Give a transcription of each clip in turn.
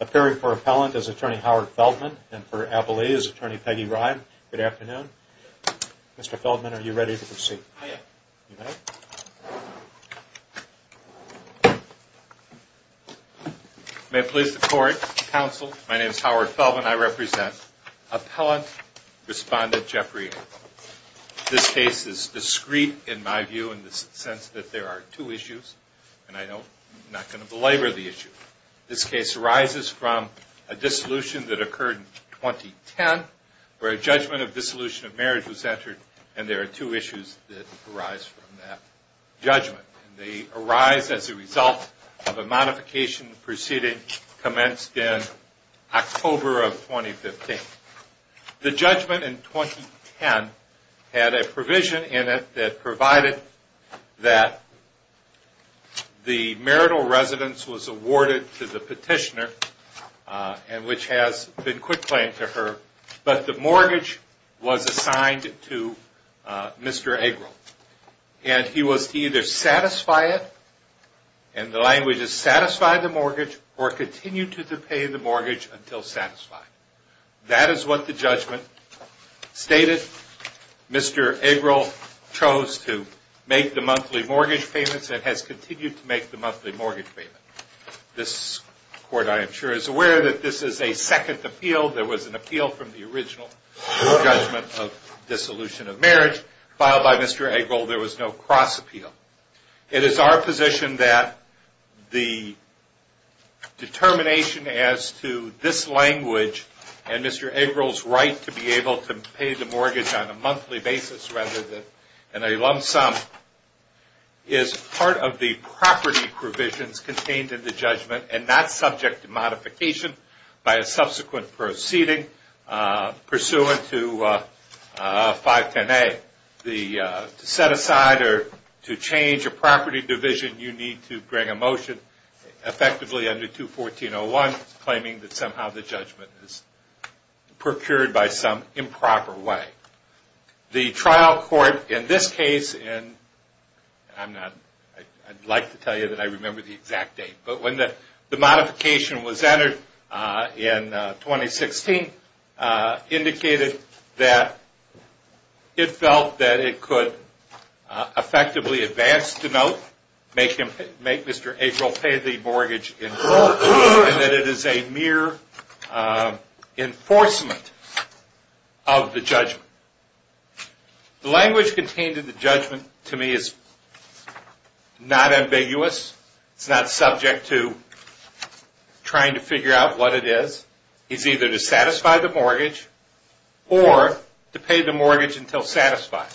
Appearing for Appellant is Attorney Howard Feltman and for Appellee is Attorney Peggy Ryan. Good afternoon. Mr. Feltman, are you ready to proceed? May it please the court, counsel, my name is Howard Feltman. I represent Appellant Respondent Jeffrey. This case is discreet in my view in the sense that there are two issues and I know I'm not going to belabor the issue. This case arises from a dissolution that occurred in 2010 where a judgment of dissolution of marriage was entered and there are two issues that arise from that judgment. They arise as a result of a modification proceeding commenced in October of 2015. The judgment in 2010 had a provision in it that provided that the marital residence was awarded to the petitioner, which has been quitclaimed to her, but the mortgage was assigned to Mr. Agrall. And he was to either satisfy it, and the language is satisfy the mortgage or continue to pay the mortgage until satisfied. That is what the judgment stated. Mr. Agrall chose to make the monthly mortgage payments and has continued to make the monthly mortgage payments. This court, I am sure, is aware that this is a second appeal. There was an appeal from the original judgment of dissolution of marriage filed by Mr. Agrall. There was no cross appeal. It is our position that the determination as to this language and Mr. Agrall's right to be able to pay the mortgage on a monthly basis rather than a lump sum is part of the property provisions contained in the judgment and not subject to modification by a subsequent proceeding pursuant to 510A. To set aside or to change a property division, you need to bring a motion effectively under 214.01 claiming that somehow the judgment is procured by some improper way. The trial court in this case, and I would like to tell you that I remember the exact date, but when the modification was entered in 2016, indicated that it felt that it could effectively advance the note, make Mr. Agrall pay the mortgage, and that it is a mere enforcement of the judgment. The language contained in the judgment to me is not ambiguous. It is not subject to trying to figure out what it is. It is either to satisfy the mortgage or to pay the mortgage until satisfied.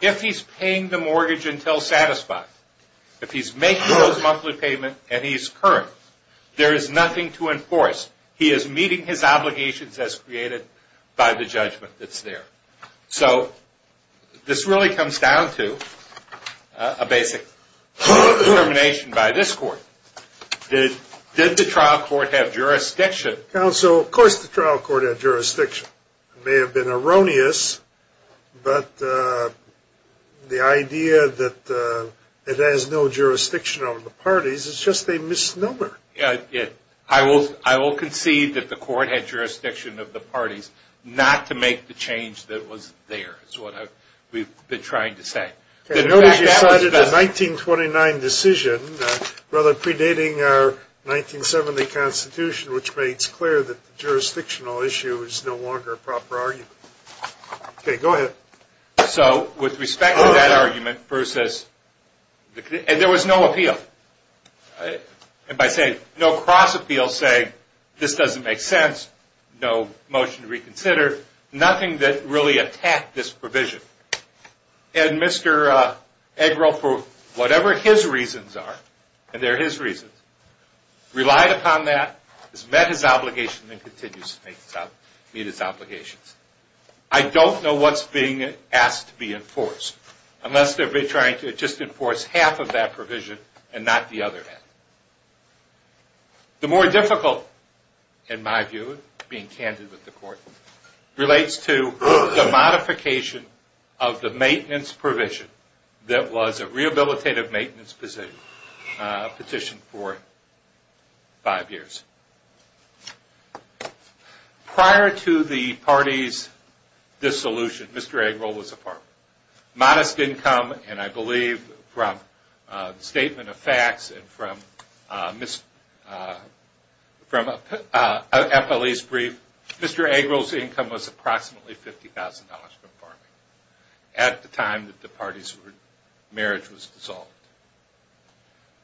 If he's paying the mortgage until satisfied, if he's making those monthly payments and he's current, there is nothing to enforce. He is meeting his obligations as created by the judgment that's there. So this really comes down to a basic determination by this court. Did the trial court have jurisdiction? Counsel, of course the trial court had jurisdiction. It may have been erroneous, but the idea that it has no jurisdiction over the parties is just a misnomer. I will concede that the court had jurisdiction of the parties not to make the change that was there, is what we've been trying to say. Notice you cited a 1929 decision, rather predating our 1970 Constitution, which makes clear that the jurisdictional issue is no longer a proper argument. Okay, go ahead. So, with respect to that argument versus, and there was no appeal. And by saying no cross appeal, saying this doesn't make sense, no motion to reconsider, nothing that really attacked this provision. And Mr. Eggroll, for whatever his reasons are, and they're his reasons, relied upon that, has met his obligations, and continues to meet his obligations. I don't know what's being asked to be enforced, unless they're trying to just enforce half of that provision and not the other half. The more difficult, in my view, being candid with the court, relates to the modification of the maintenance provision that was a rehabilitative maintenance petition for five years. Prior to the parties' dissolution, Mr. Eggroll was a farmer. Modest income, and I believe from a statement of facts and from a police brief, Mr. Eggroll's income was approximately $50,000 from farming at the time that the parties' marriage was dissolved.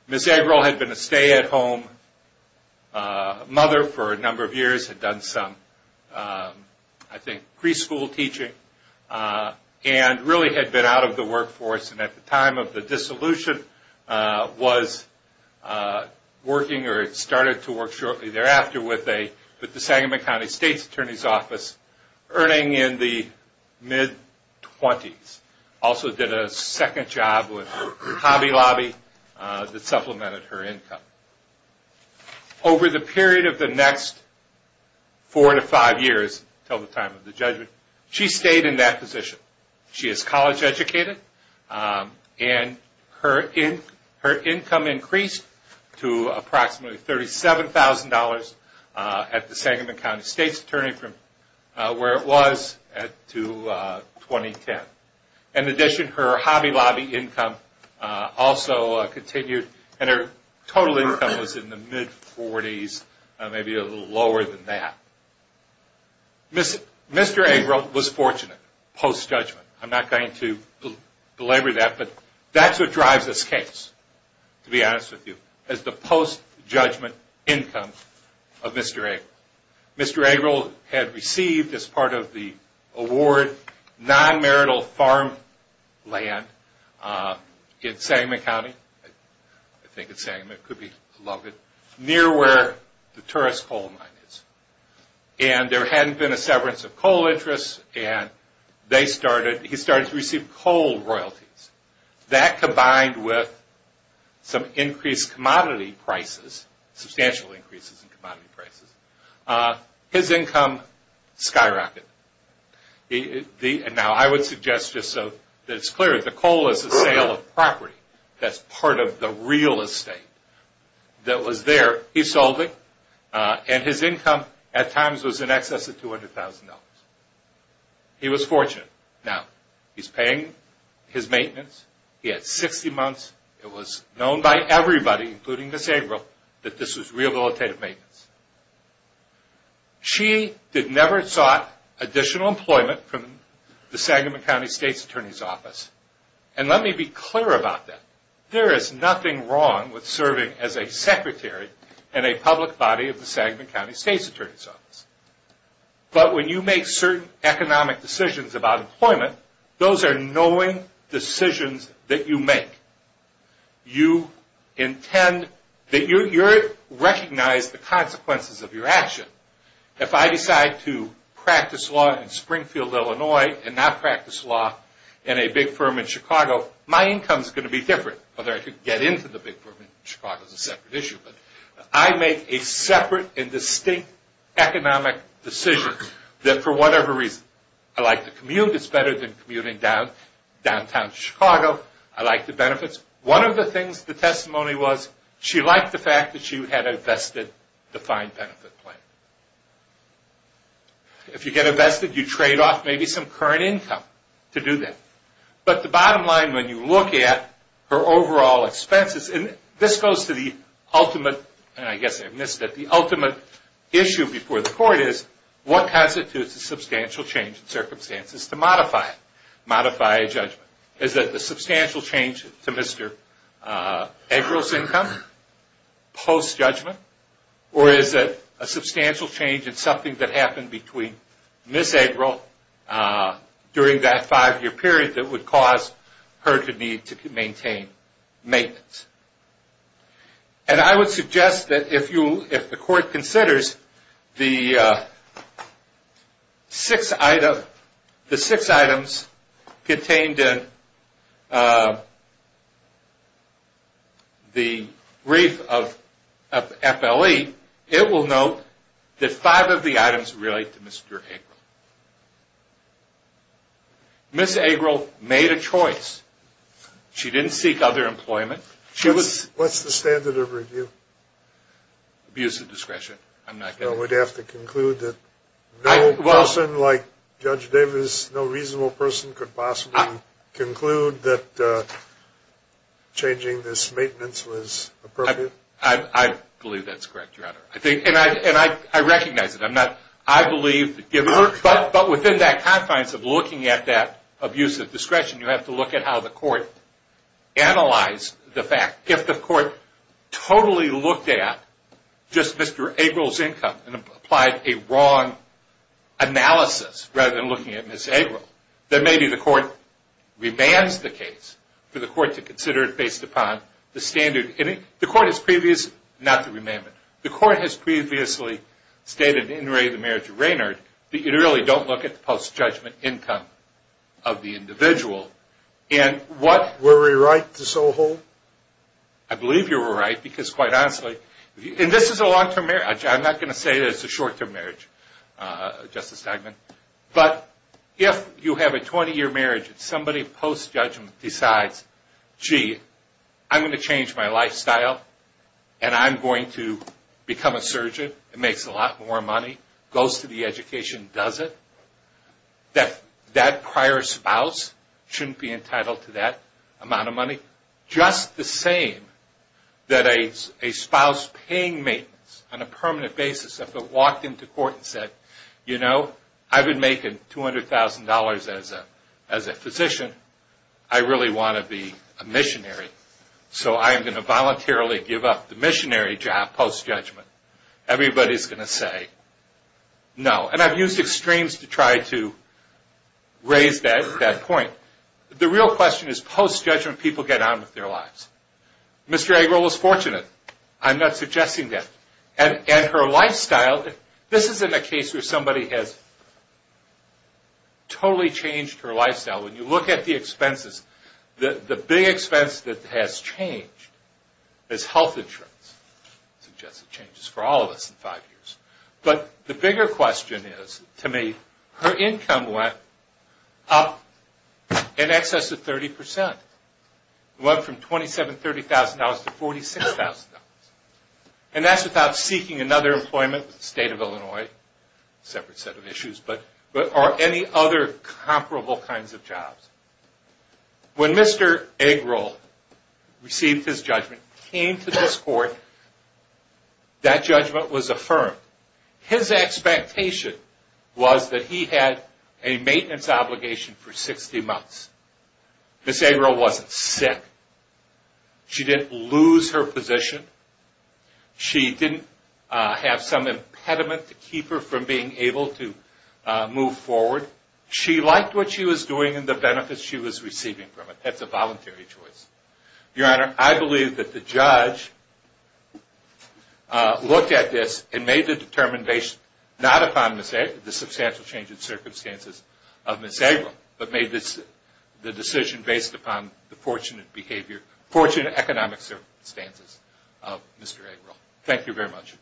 Ms. Eggroll had been a stay-at-home mother for a number of years, had done some, I think, preschool teaching, and really had been out of the workforce. And at the time of the dissolution, was working, or started to work shortly thereafter, with the Sagamon County State's Attorney's Office, earning in the mid-20s. Also did a second job with Hobby Lobby that supplemented her income. Over the period of the next four to five years, until the time of the judgment, she stayed in that position. She is college educated, and her income increased to approximately $37,000 at the Sagamon County State's Attorney from where it was to 2010. In addition, her Hobby Lobby income also continued, and her total income was in the mid-40s, maybe a little lower than that. Mr. Eggroll was fortunate post-judgment. I'm not going to belabor that, but that's what drives this case, to be honest with you, is the post-judgment income of Mr. Eggroll. Mr. Eggroll had received, as part of the award, non-marital farm land in Sagamon County. I think it's Sagamon, it could be Logan, near where the Torres Coal Mine is. There hadn't been a severance of coal interests, and he started to receive coal royalties. That combined with some increased commodity prices, substantial increases in commodity prices, his income skyrocketed. Now, I would suggest, just so that it's clear, the coal is a sale of property that's part of the real estate that was there. He sold it, and his income at times was in excess of $200,000. He was fortunate. Now, he's paying his maintenance. He had 60 months. It was known by everybody, including Ms. Eggroll, that this was rehabilitative maintenance. She had never sought additional employment from the Sagamon County State's Attorney's Office. Let me be clear about that. There is nothing wrong with serving as a secretary in a public body of the Sagamon County State's Attorney's Office. When you make certain economic decisions about employment, those are knowing decisions that you make. You recognize the consequences of your action. If I decide to practice law in Springfield, Illinois, and not practice law in a big firm in Chicago, my income is going to be different. Whether I can get into the big firm in Chicago is a separate issue. I make a separate and distinct economic decision that, for whatever reason, I like to commute. It's better than commuting downtown Chicago. I like the benefits. One of the things the testimony was, she liked the fact that she had invested the fine benefit plan. If you get invested, you trade off maybe some current income to do that. The bottom line, when you look at her overall expenses, this goes to the ultimate issue before the court. What constitutes a substantial change in circumstances to modify a judgment? Is it a substantial change to Mr. Eggroll's income post-judgment? Or is it a substantial change in something that happened between Ms. Eggroll during that five-year period that would cause her to need to maintain maintenance? I would suggest that if the court considers the six items contained in the brief of FLE, it will note that five of the items relate to Mr. Eggroll. Ms. Eggroll made a choice. She didn't seek other employment. What's the standard of review? Abuse of discretion. I'm not going to... We'd have to conclude that no person like Judge Davis, no reasonable person, could possibly conclude that changing this maintenance was appropriate? I believe that's correct, Your Honor. And I recognize it. I'm not... I believe... But within that confines of looking at that abuse of discretion, you have to look at how the court analyzed the fact. If the court totally looked at just Mr. Eggroll's income and applied a wrong analysis rather than looking at Ms. Eggroll, then maybe the court remands the case for the court to consider it based upon the standard. The court has previously... Not the remandment. The court has previously stated in Ray, the marriage of Raynard, that you really don't look at the post-judgment income of the individual. Were we right to so hold? I believe you were right, because quite honestly... And this is a long-term marriage. I'm not going to say that it's a short-term marriage, Justice Steinman. But if you have a 20-year marriage and somebody post-judgment decides, gee, I'm going to change my lifestyle and I'm going to become a surgeon, it makes a lot more money, goes to the education, does it? That prior spouse shouldn't be entitled to that amount of money. Just the same that a spouse paying maintenance on a permanent basis, if it walked into court and said, you know, I've been making $200,000 as a physician. I really want to be a missionary, so I'm going to voluntarily give up the missionary job post-judgment. Everybody's going to say, no. And I've used extremes to try to raise that point. The real question is, post-judgment, people get on with their lives. Mr. Eggroll was fortunate. I'm not suggesting that. And her lifestyle... This isn't a case where somebody has totally changed her lifestyle. When you look at the expenses, the big expense that has changed is health insurance. Suggested changes for all of us in five years. But the bigger question is, to me, her income went up in excess of 30%. It went from $27,000, $30,000 to $46,000. And that's without seeking another employment with the state of Illinois. Separate set of issues. But are there any other comparable kinds of jobs? When Mr. Eggroll received his judgment, came to this court, that judgment was affirmed. His expectation was that he had a maintenance obligation for 60 months. Ms. Eggroll wasn't sick. She didn't lose her position. She didn't have some impediment to keep her from being able to move forward. She liked what she was doing and the benefits she was receiving from it. That's a voluntary choice. Your Honor, I believe that the judge looked at this and made the determination, based not upon the substantial change in circumstances of Ms. Eggroll, but made the decision based upon the fortunate economic circumstances of Mr. Eggroll. Thank you very much.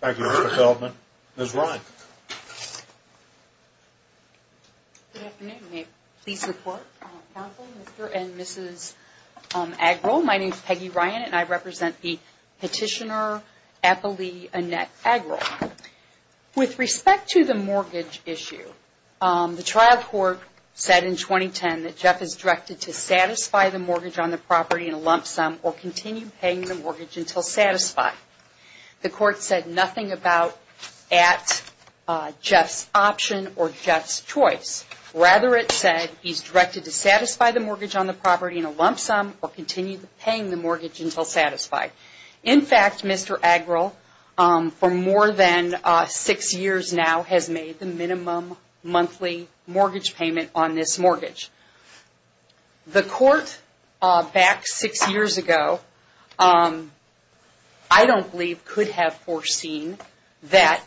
Thank you, Mr. Feldman. Ms. Ryan. Good afternoon. May it please the Court, Counsel, Mr. and Mrs. Eggroll. My name is Peggy Ryan, and I represent the petitioner, Applelee Annette Eggroll. With respect to the mortgage issue, the trial court said in 2010 that Jeff is directed to satisfy the mortgage on the property in a lump sum or continue paying the mortgage until satisfied. The court said nothing about at Jeff's option or Jeff's choice. Rather, it said he's directed to satisfy the mortgage on the property in a lump sum or continue paying the mortgage until satisfied. In fact, Mr. Eggroll, for more than six years now, has made the minimum monthly mortgage payment on this mortgage. The court back six years ago, I don't believe, could have foreseen that.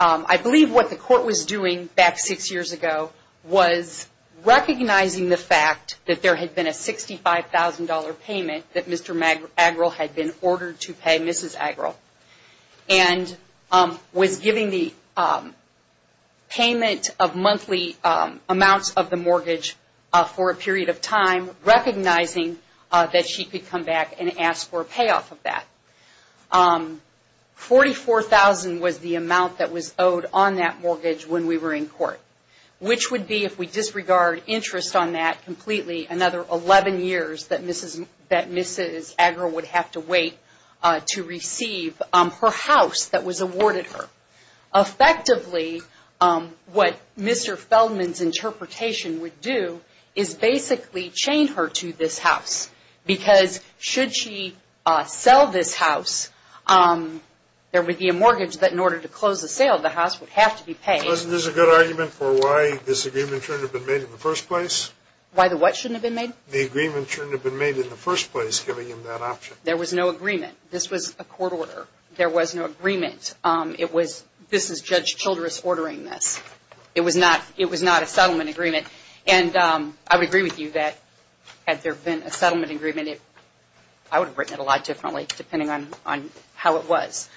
I believe what the court was doing back six years ago was recognizing the fact that there had been a $65,000 payment that Mr. Eggroll had been ordered to pay Mrs. Eggroll and was giving the payment of monthly amounts of the mortgage for a period of time, recognizing that she could come back and ask for a payoff of that. $44,000 was the amount that was owed on that mortgage when we were in court, which would be, if we disregard interest on that completely, another 11 years that Mrs. Eggroll would have to wait to receive her house that was awarded her. Effectively, what Mr. Feldman's interpretation would do is basically chain her to this house because should she sell this house, there would be a mortgage. But in order to close the sale, the house would have to be paid. Isn't this a good argument for why this agreement shouldn't have been made in the first place? Why the what shouldn't have been made? The agreement shouldn't have been made in the first place, giving him that option. There was no agreement. This was a court order. There was no agreement. This is Judge Childress ordering this. It was not a settlement agreement. I would agree with you that had there been a settlement agreement, I would have written it a lot differently depending on how it was.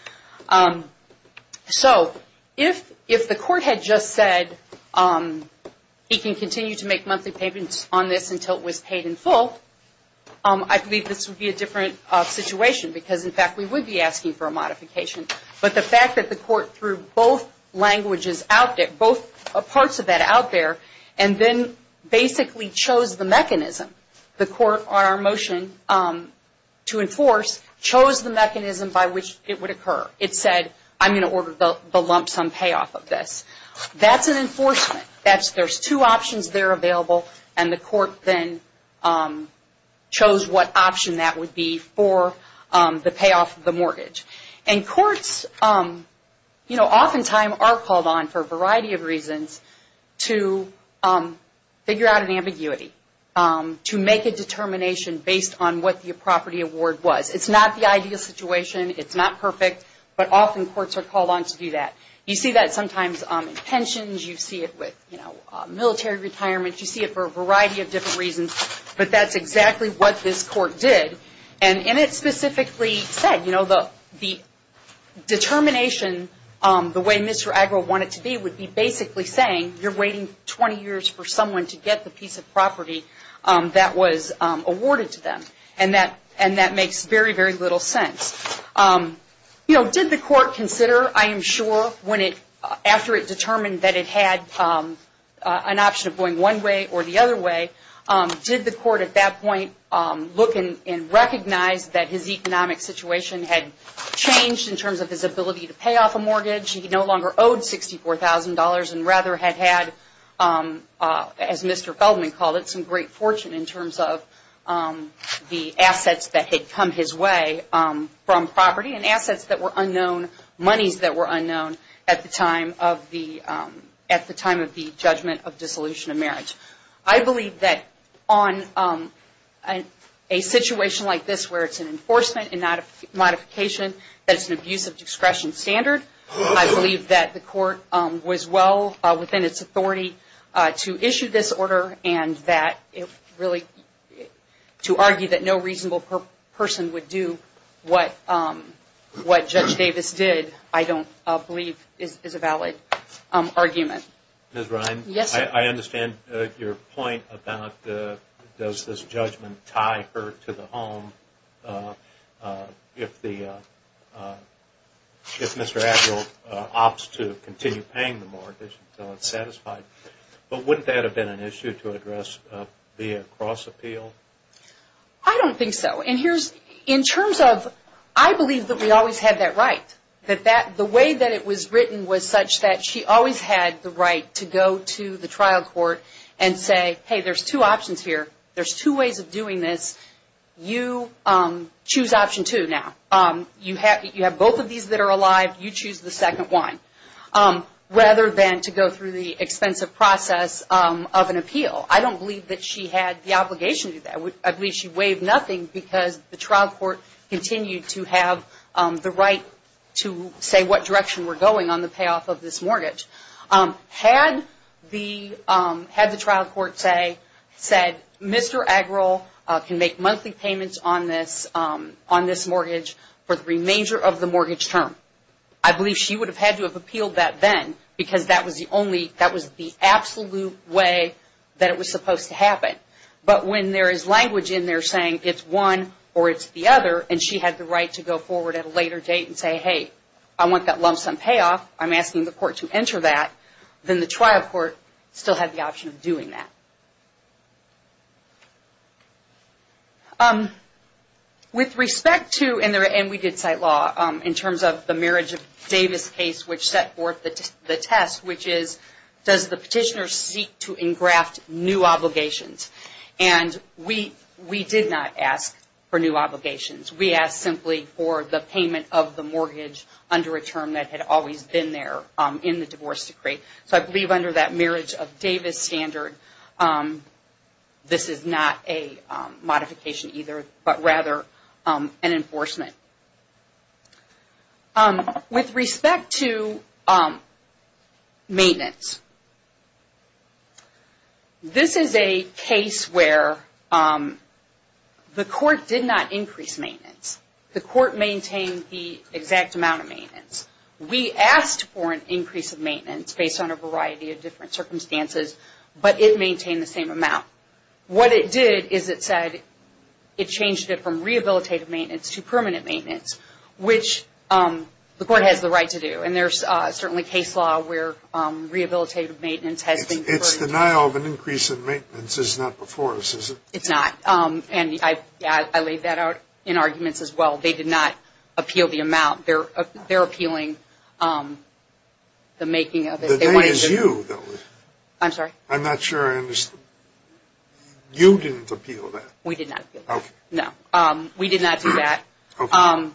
So if the court had just said he can continue to make monthly payments on this until it was paid in full, I believe this would be a different situation because, in fact, we would be asking for a modification. But the fact that the court threw both languages out there, both parts of that out there, and then basically chose the mechanism the court on our motion to enforce, chose the mechanism by which it would occur. It said, I'm going to order the lump sum payoff of this. That's an enforcement. There's two options there available, and the court then chose what option that would be for the payoff of the mortgage. And courts, you know, oftentimes are called on for a variety of reasons to figure out an ambiguity, to make a determination based on what the property award was. It's not the ideal situation. It's not perfect. But often courts are called on to do that. You see that sometimes in pensions. You see it with military retirement. You see it for a variety of different reasons. But that's exactly what this court did. And it specifically said, you know, the determination, the way Mr. Agro wanted it to be, would be basically saying you're waiting 20 years for someone to get the piece of property that was awarded to them. And that makes very, very little sense. You know, did the court consider, I am sure, after it determined that it had an option of going one way or the other way, did the court at that point look and recognize that his economic situation had changed in terms of his ability to pay off a mortgage? He no longer owed $64,000 and rather had had, as Mr. Feldman called it, some great fortune in terms of the assets that had come his way from property, and assets that were unknown, monies that were unknown at the time of the judgment of dissolution of marriage. I believe that on a situation like this where it's an enforcement and not a modification, that it's an abuse of discretion standard. I believe that the court was well within its authority to issue this order and that it really, to argue that no reasonable person would do what Judge Davis did, I don't believe is a valid argument. Ms. Ryan, I understand your point about does this judgment tie her to the home if Mr. Adger opts to continue paying the mortgage until it's satisfied. But wouldn't that have been an issue to address via cross-appeal? I don't think so. In terms of, I believe that we always had that right, that the way that it was written was such that she always had the right to go to the trial court and say, hey, there's two options here. There's two ways of doing this. You choose option two now. You have both of these that are alive. You choose the second one, rather than to go through the expensive process of an appeal. I don't believe that she had the obligation to do that. I believe she waived nothing because the trial court continued to have the right to say what direction we're going on the payoff of this mortgage. Had the trial court said, Mr. Adger can make monthly payments on this mortgage for the remainder of the mortgage term, I believe she would have had to have appealed that then because that was the only, that was the absolute way that it was supposed to happen. But when there is language in there saying it's one or it's the other, and she had the right to go forward at a later date and say, hey, I want that lump sum payoff. I'm asking the court to enter that. Then the trial court still had the option of doing that. With respect to, and we did cite law, in terms of the Marriage of Davis case, which set forth the test, which is does the petitioner seek to engraft new obligations? And we did not ask for new obligations. We asked simply for the payment of the mortgage under a term that had always been there in the divorce decree. So I believe under that Marriage of Davis standard, this is not a modification either, but rather an enforcement. With respect to maintenance, this is a case where the court did not increase maintenance. The court maintained the exact amount of maintenance. We asked for an increase of maintenance based on a variety of different circumstances, but it maintained the same amount. What it did is it said it changed it from rehabilitative maintenance to permanent maintenance, which the court has the right to do. And there's certainly case law where rehabilitative maintenance has been preferred. It's denial of an increase in maintenance is not before us, is it? It's not. And I laid that out in arguments as well. They did not appeal the amount. They're appealing the making of it. The name is you, though. I'm sorry? I'm not sure I understand. You didn't appeal that. We did not appeal that. Okay. No, we did not do that. Okay.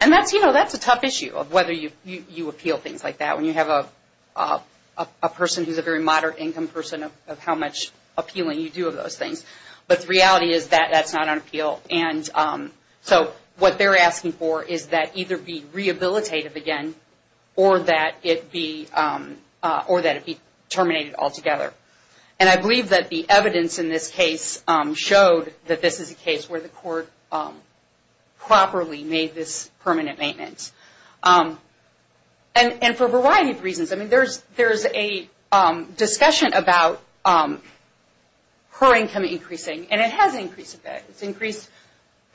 And that's a tough issue of whether you appeal things like that when you have a person who's a very moderate income person of how much appealing you do of those things. But the reality is that that's not an appeal. And so what they're asking for is that either be rehabilitative again or that it be terminated altogether. And I believe that the evidence in this case showed that this is a case where the court properly made this permanent maintenance, and for a variety of reasons. I mean, there's a discussion about her income increasing, and it has increased a bit. It's increased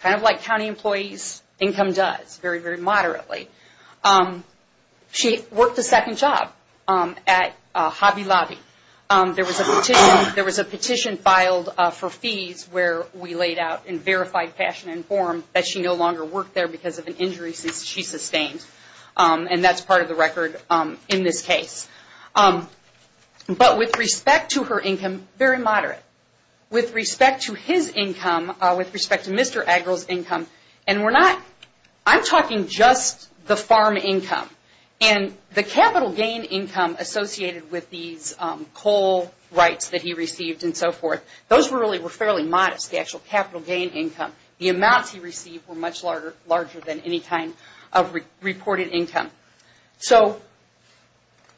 kind of like county employees' income does, very, very moderately. She worked a second job at Hobby Lobby. There was a petition filed for fees where we laid out in verified fashion and form that she no longer worked there because of an injury she sustained. And that's part of the record in this case. But with respect to her income, very moderate. With respect to his income, with respect to Mr. Aggrel's income, and we're not, I'm talking just the farm income. And the capital gain income associated with these coal rights that he received and so forth, those really were fairly modest, the actual capital gain income. The amounts he received were much larger than any kind of reported income. So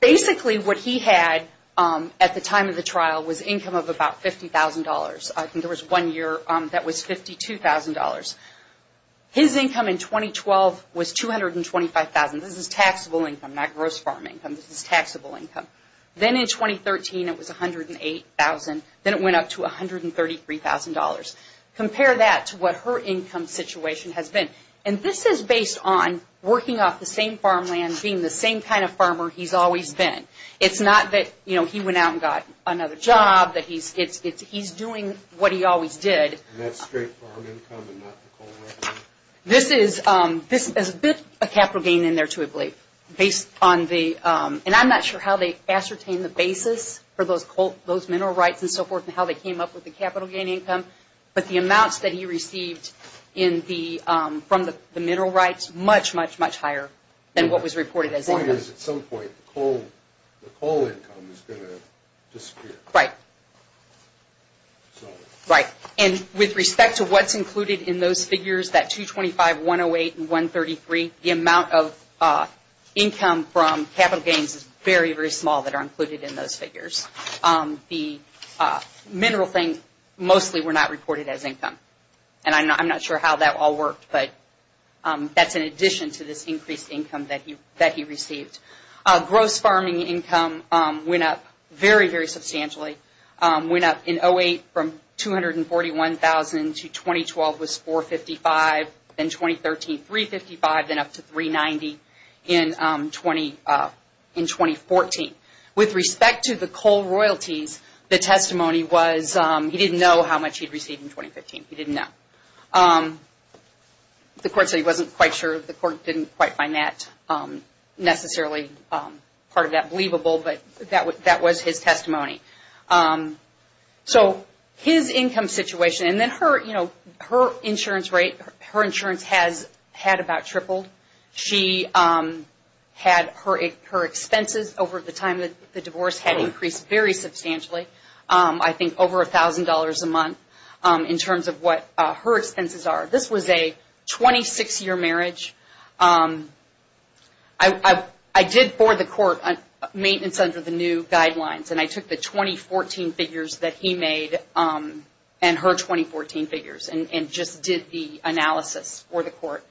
basically what he had at the time of the trial was income of about $50,000. I think there was one year that was $52,000. His income in 2012 was $225,000. This is taxable income, not gross farm income. This is taxable income. Then in 2013, it was $108,000. Then it went up to $133,000. Compare that to what her income situation has been. And this is based on working off the same farmland, being the same kind of farmer he's always been. It's not that, you know, he went out and got another job. It's he's doing what he always did. And that's straight farm income and not the coal right? This is a bit of capital gain in there, too, I believe. And I'm not sure how they ascertain the basis for those mineral rights and so forth and how they came up with the capital gain income. But the amounts that he received from the mineral rights, much, much, much higher than what was reported as income. The point is at some point the coal income is going to disappear. Right. Right. And with respect to what's included in those figures, that $225,000, $108,000, and $133,000, the amount of income from capital gains is very, very small that are included in those figures. The mineral things mostly were not reported as income. And I'm not sure how that all worked, but that's in addition to this increased income that he received. Gross farming income went up very, very substantially. Went up in 2008 from $241,000 to 2012 was $455,000, then 2013 $355,000, then up to $390,000 in 2014. With respect to the coal royalties, the testimony was he didn't know how much he'd received in 2015. He didn't know. The court said he wasn't quite sure. The court didn't quite find that necessarily part of that believable, but that was his testimony. So his income situation and then her, you know, her insurance rate, her insurance has had about tripled. She had her expenses over the time of the divorce had increased very substantially. I think over $1,000 a month in terms of what her expenses are. This was a 26-year marriage. I did for the court maintenance under the new guidelines, and I took the 2014 figures that he made and her 2014 figures and just did the analysis for the court.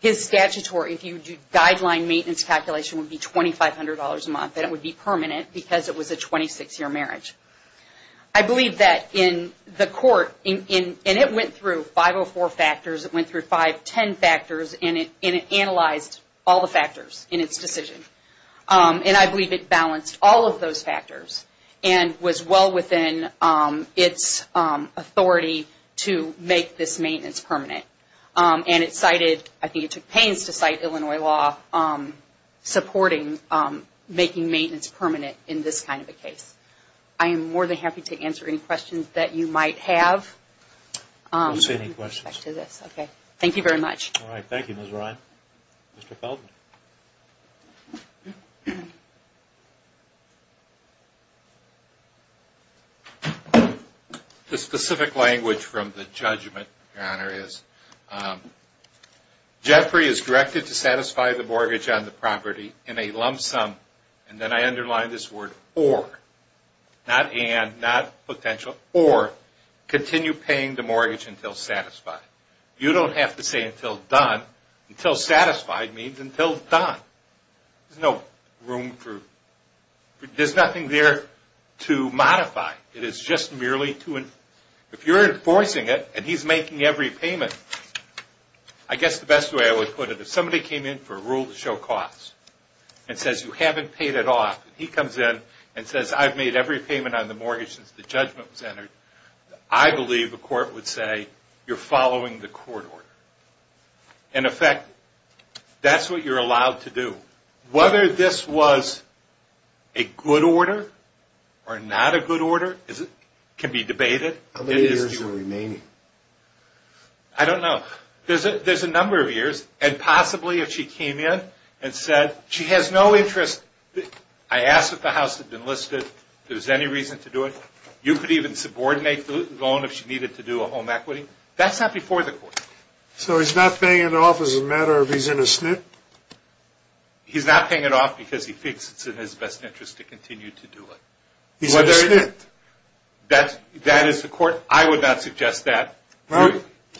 His statutory, if you do guideline maintenance calculation, would be $2,500 a month, and it would be permanent because it was a 26-year marriage. I believe that in the court, and it went through 504 factors, it went through 510 factors, and it analyzed all the factors in its decision. And I believe it balanced all of those factors and was well within its authority to make this maintenance permanent. And it cited, I think it took pains to cite Illinois law supporting making maintenance permanent in this kind of a case. I am more than happy to answer any questions that you might have with respect to this. Thank you very much. All right. Thank you, Ms. Ryan. Mr. Feldman. The specific language from the judgment, Your Honor, is Jeffrey is directed to satisfy the mortgage on the property in a lump sum, and then I underline this word or. Not and, not potential, or continue paying the mortgage until satisfied. You don't have to say until done. Until satisfied means until done. There's no room for, there's nothing there to modify. It is just merely to, if you're enforcing it and he's making every payment, I guess the best way I would put it, if somebody came in for a rule to show costs and says you haven't paid it off, and he comes in and says I've made every payment on the mortgage since the judgment was entered, I believe the court would say you're following the court order. In effect, that's what you're allowed to do. Whether this was a good order or not a good order can be debated. How many years are remaining? I don't know. There's a number of years, and possibly if she came in and said she has no interest, I asked if the house had been listed, if there was any reason to do it, you could even subordinate the loan if she needed to do a home equity. That's not before the court. So he's not paying it off as a matter of he's in a SNIT? He's not paying it off because he thinks it's in his best interest to continue to do it. He's in a SNIT? That is the court. I would not suggest that.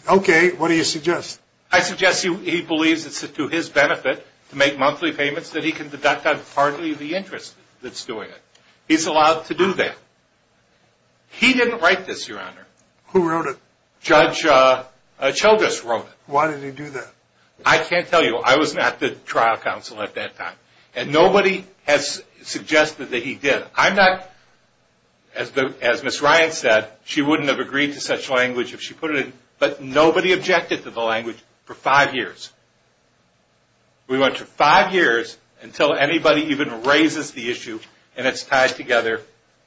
Okay. What do you suggest? I suggest he believes it's to his benefit to make monthly payments that he can deduct on partly the interest that's doing it. He's allowed to do that. He didn't write this, Your Honor. Who wrote it? Judge Childress wrote it. Why did he do that? I can't tell you. I was not the trial counsel at that time. And nobody has suggested that he did. I'm not, as Ms. Ryan said, she wouldn't have agreed to such language if she put it in. But nobody objected to the language for five years. We went to five years until anybody even raises the issue and it's tied together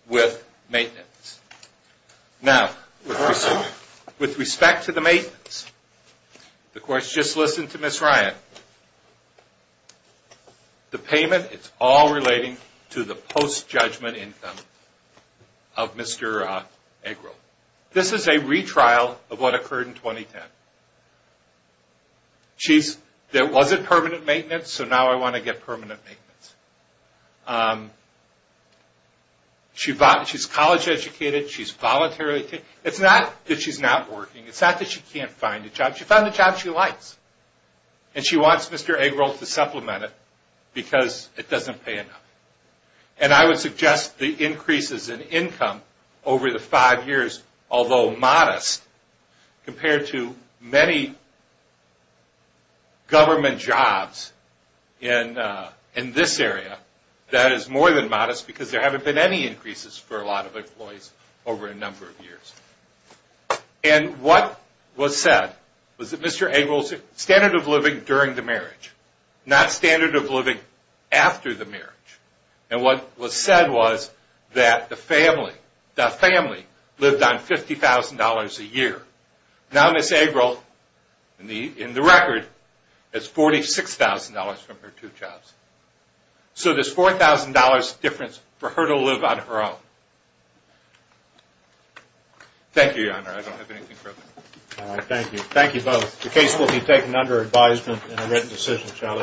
with maintenance. Now, with respect to the maintenance, the court's just listened to Ms. Ryan. The payment, it's all relating to the post-judgment income of Mr. Eggroll. This is a retrial of what occurred in 2010. There wasn't permanent maintenance, so now I want to get permanent maintenance. She's college educated. She's voluntarily paid. It's not that she's not working. It's not that she can't find a job. She found a job she likes. And she wants Mr. Eggroll to supplement it because it doesn't pay enough. And I would suggest the increases in income over the five years, although modest, compared to many government jobs in this area, that is more than modest because there haven't been any increases for a lot of employees over a number of years. And what was said was that Mr. Eggroll's standard of living during the marriage, not standard of living after the marriage. And what was said was that the family lived on $50,000 a year. Now Ms. Eggroll, in the record, has $46,000 from her two jobs. So there's $4,000 difference for her to live on her own. Thank you, Your Honor. I don't have anything further. All right. Thank you. Thank you both. The case will be taken under advisement and a written decision shall issue.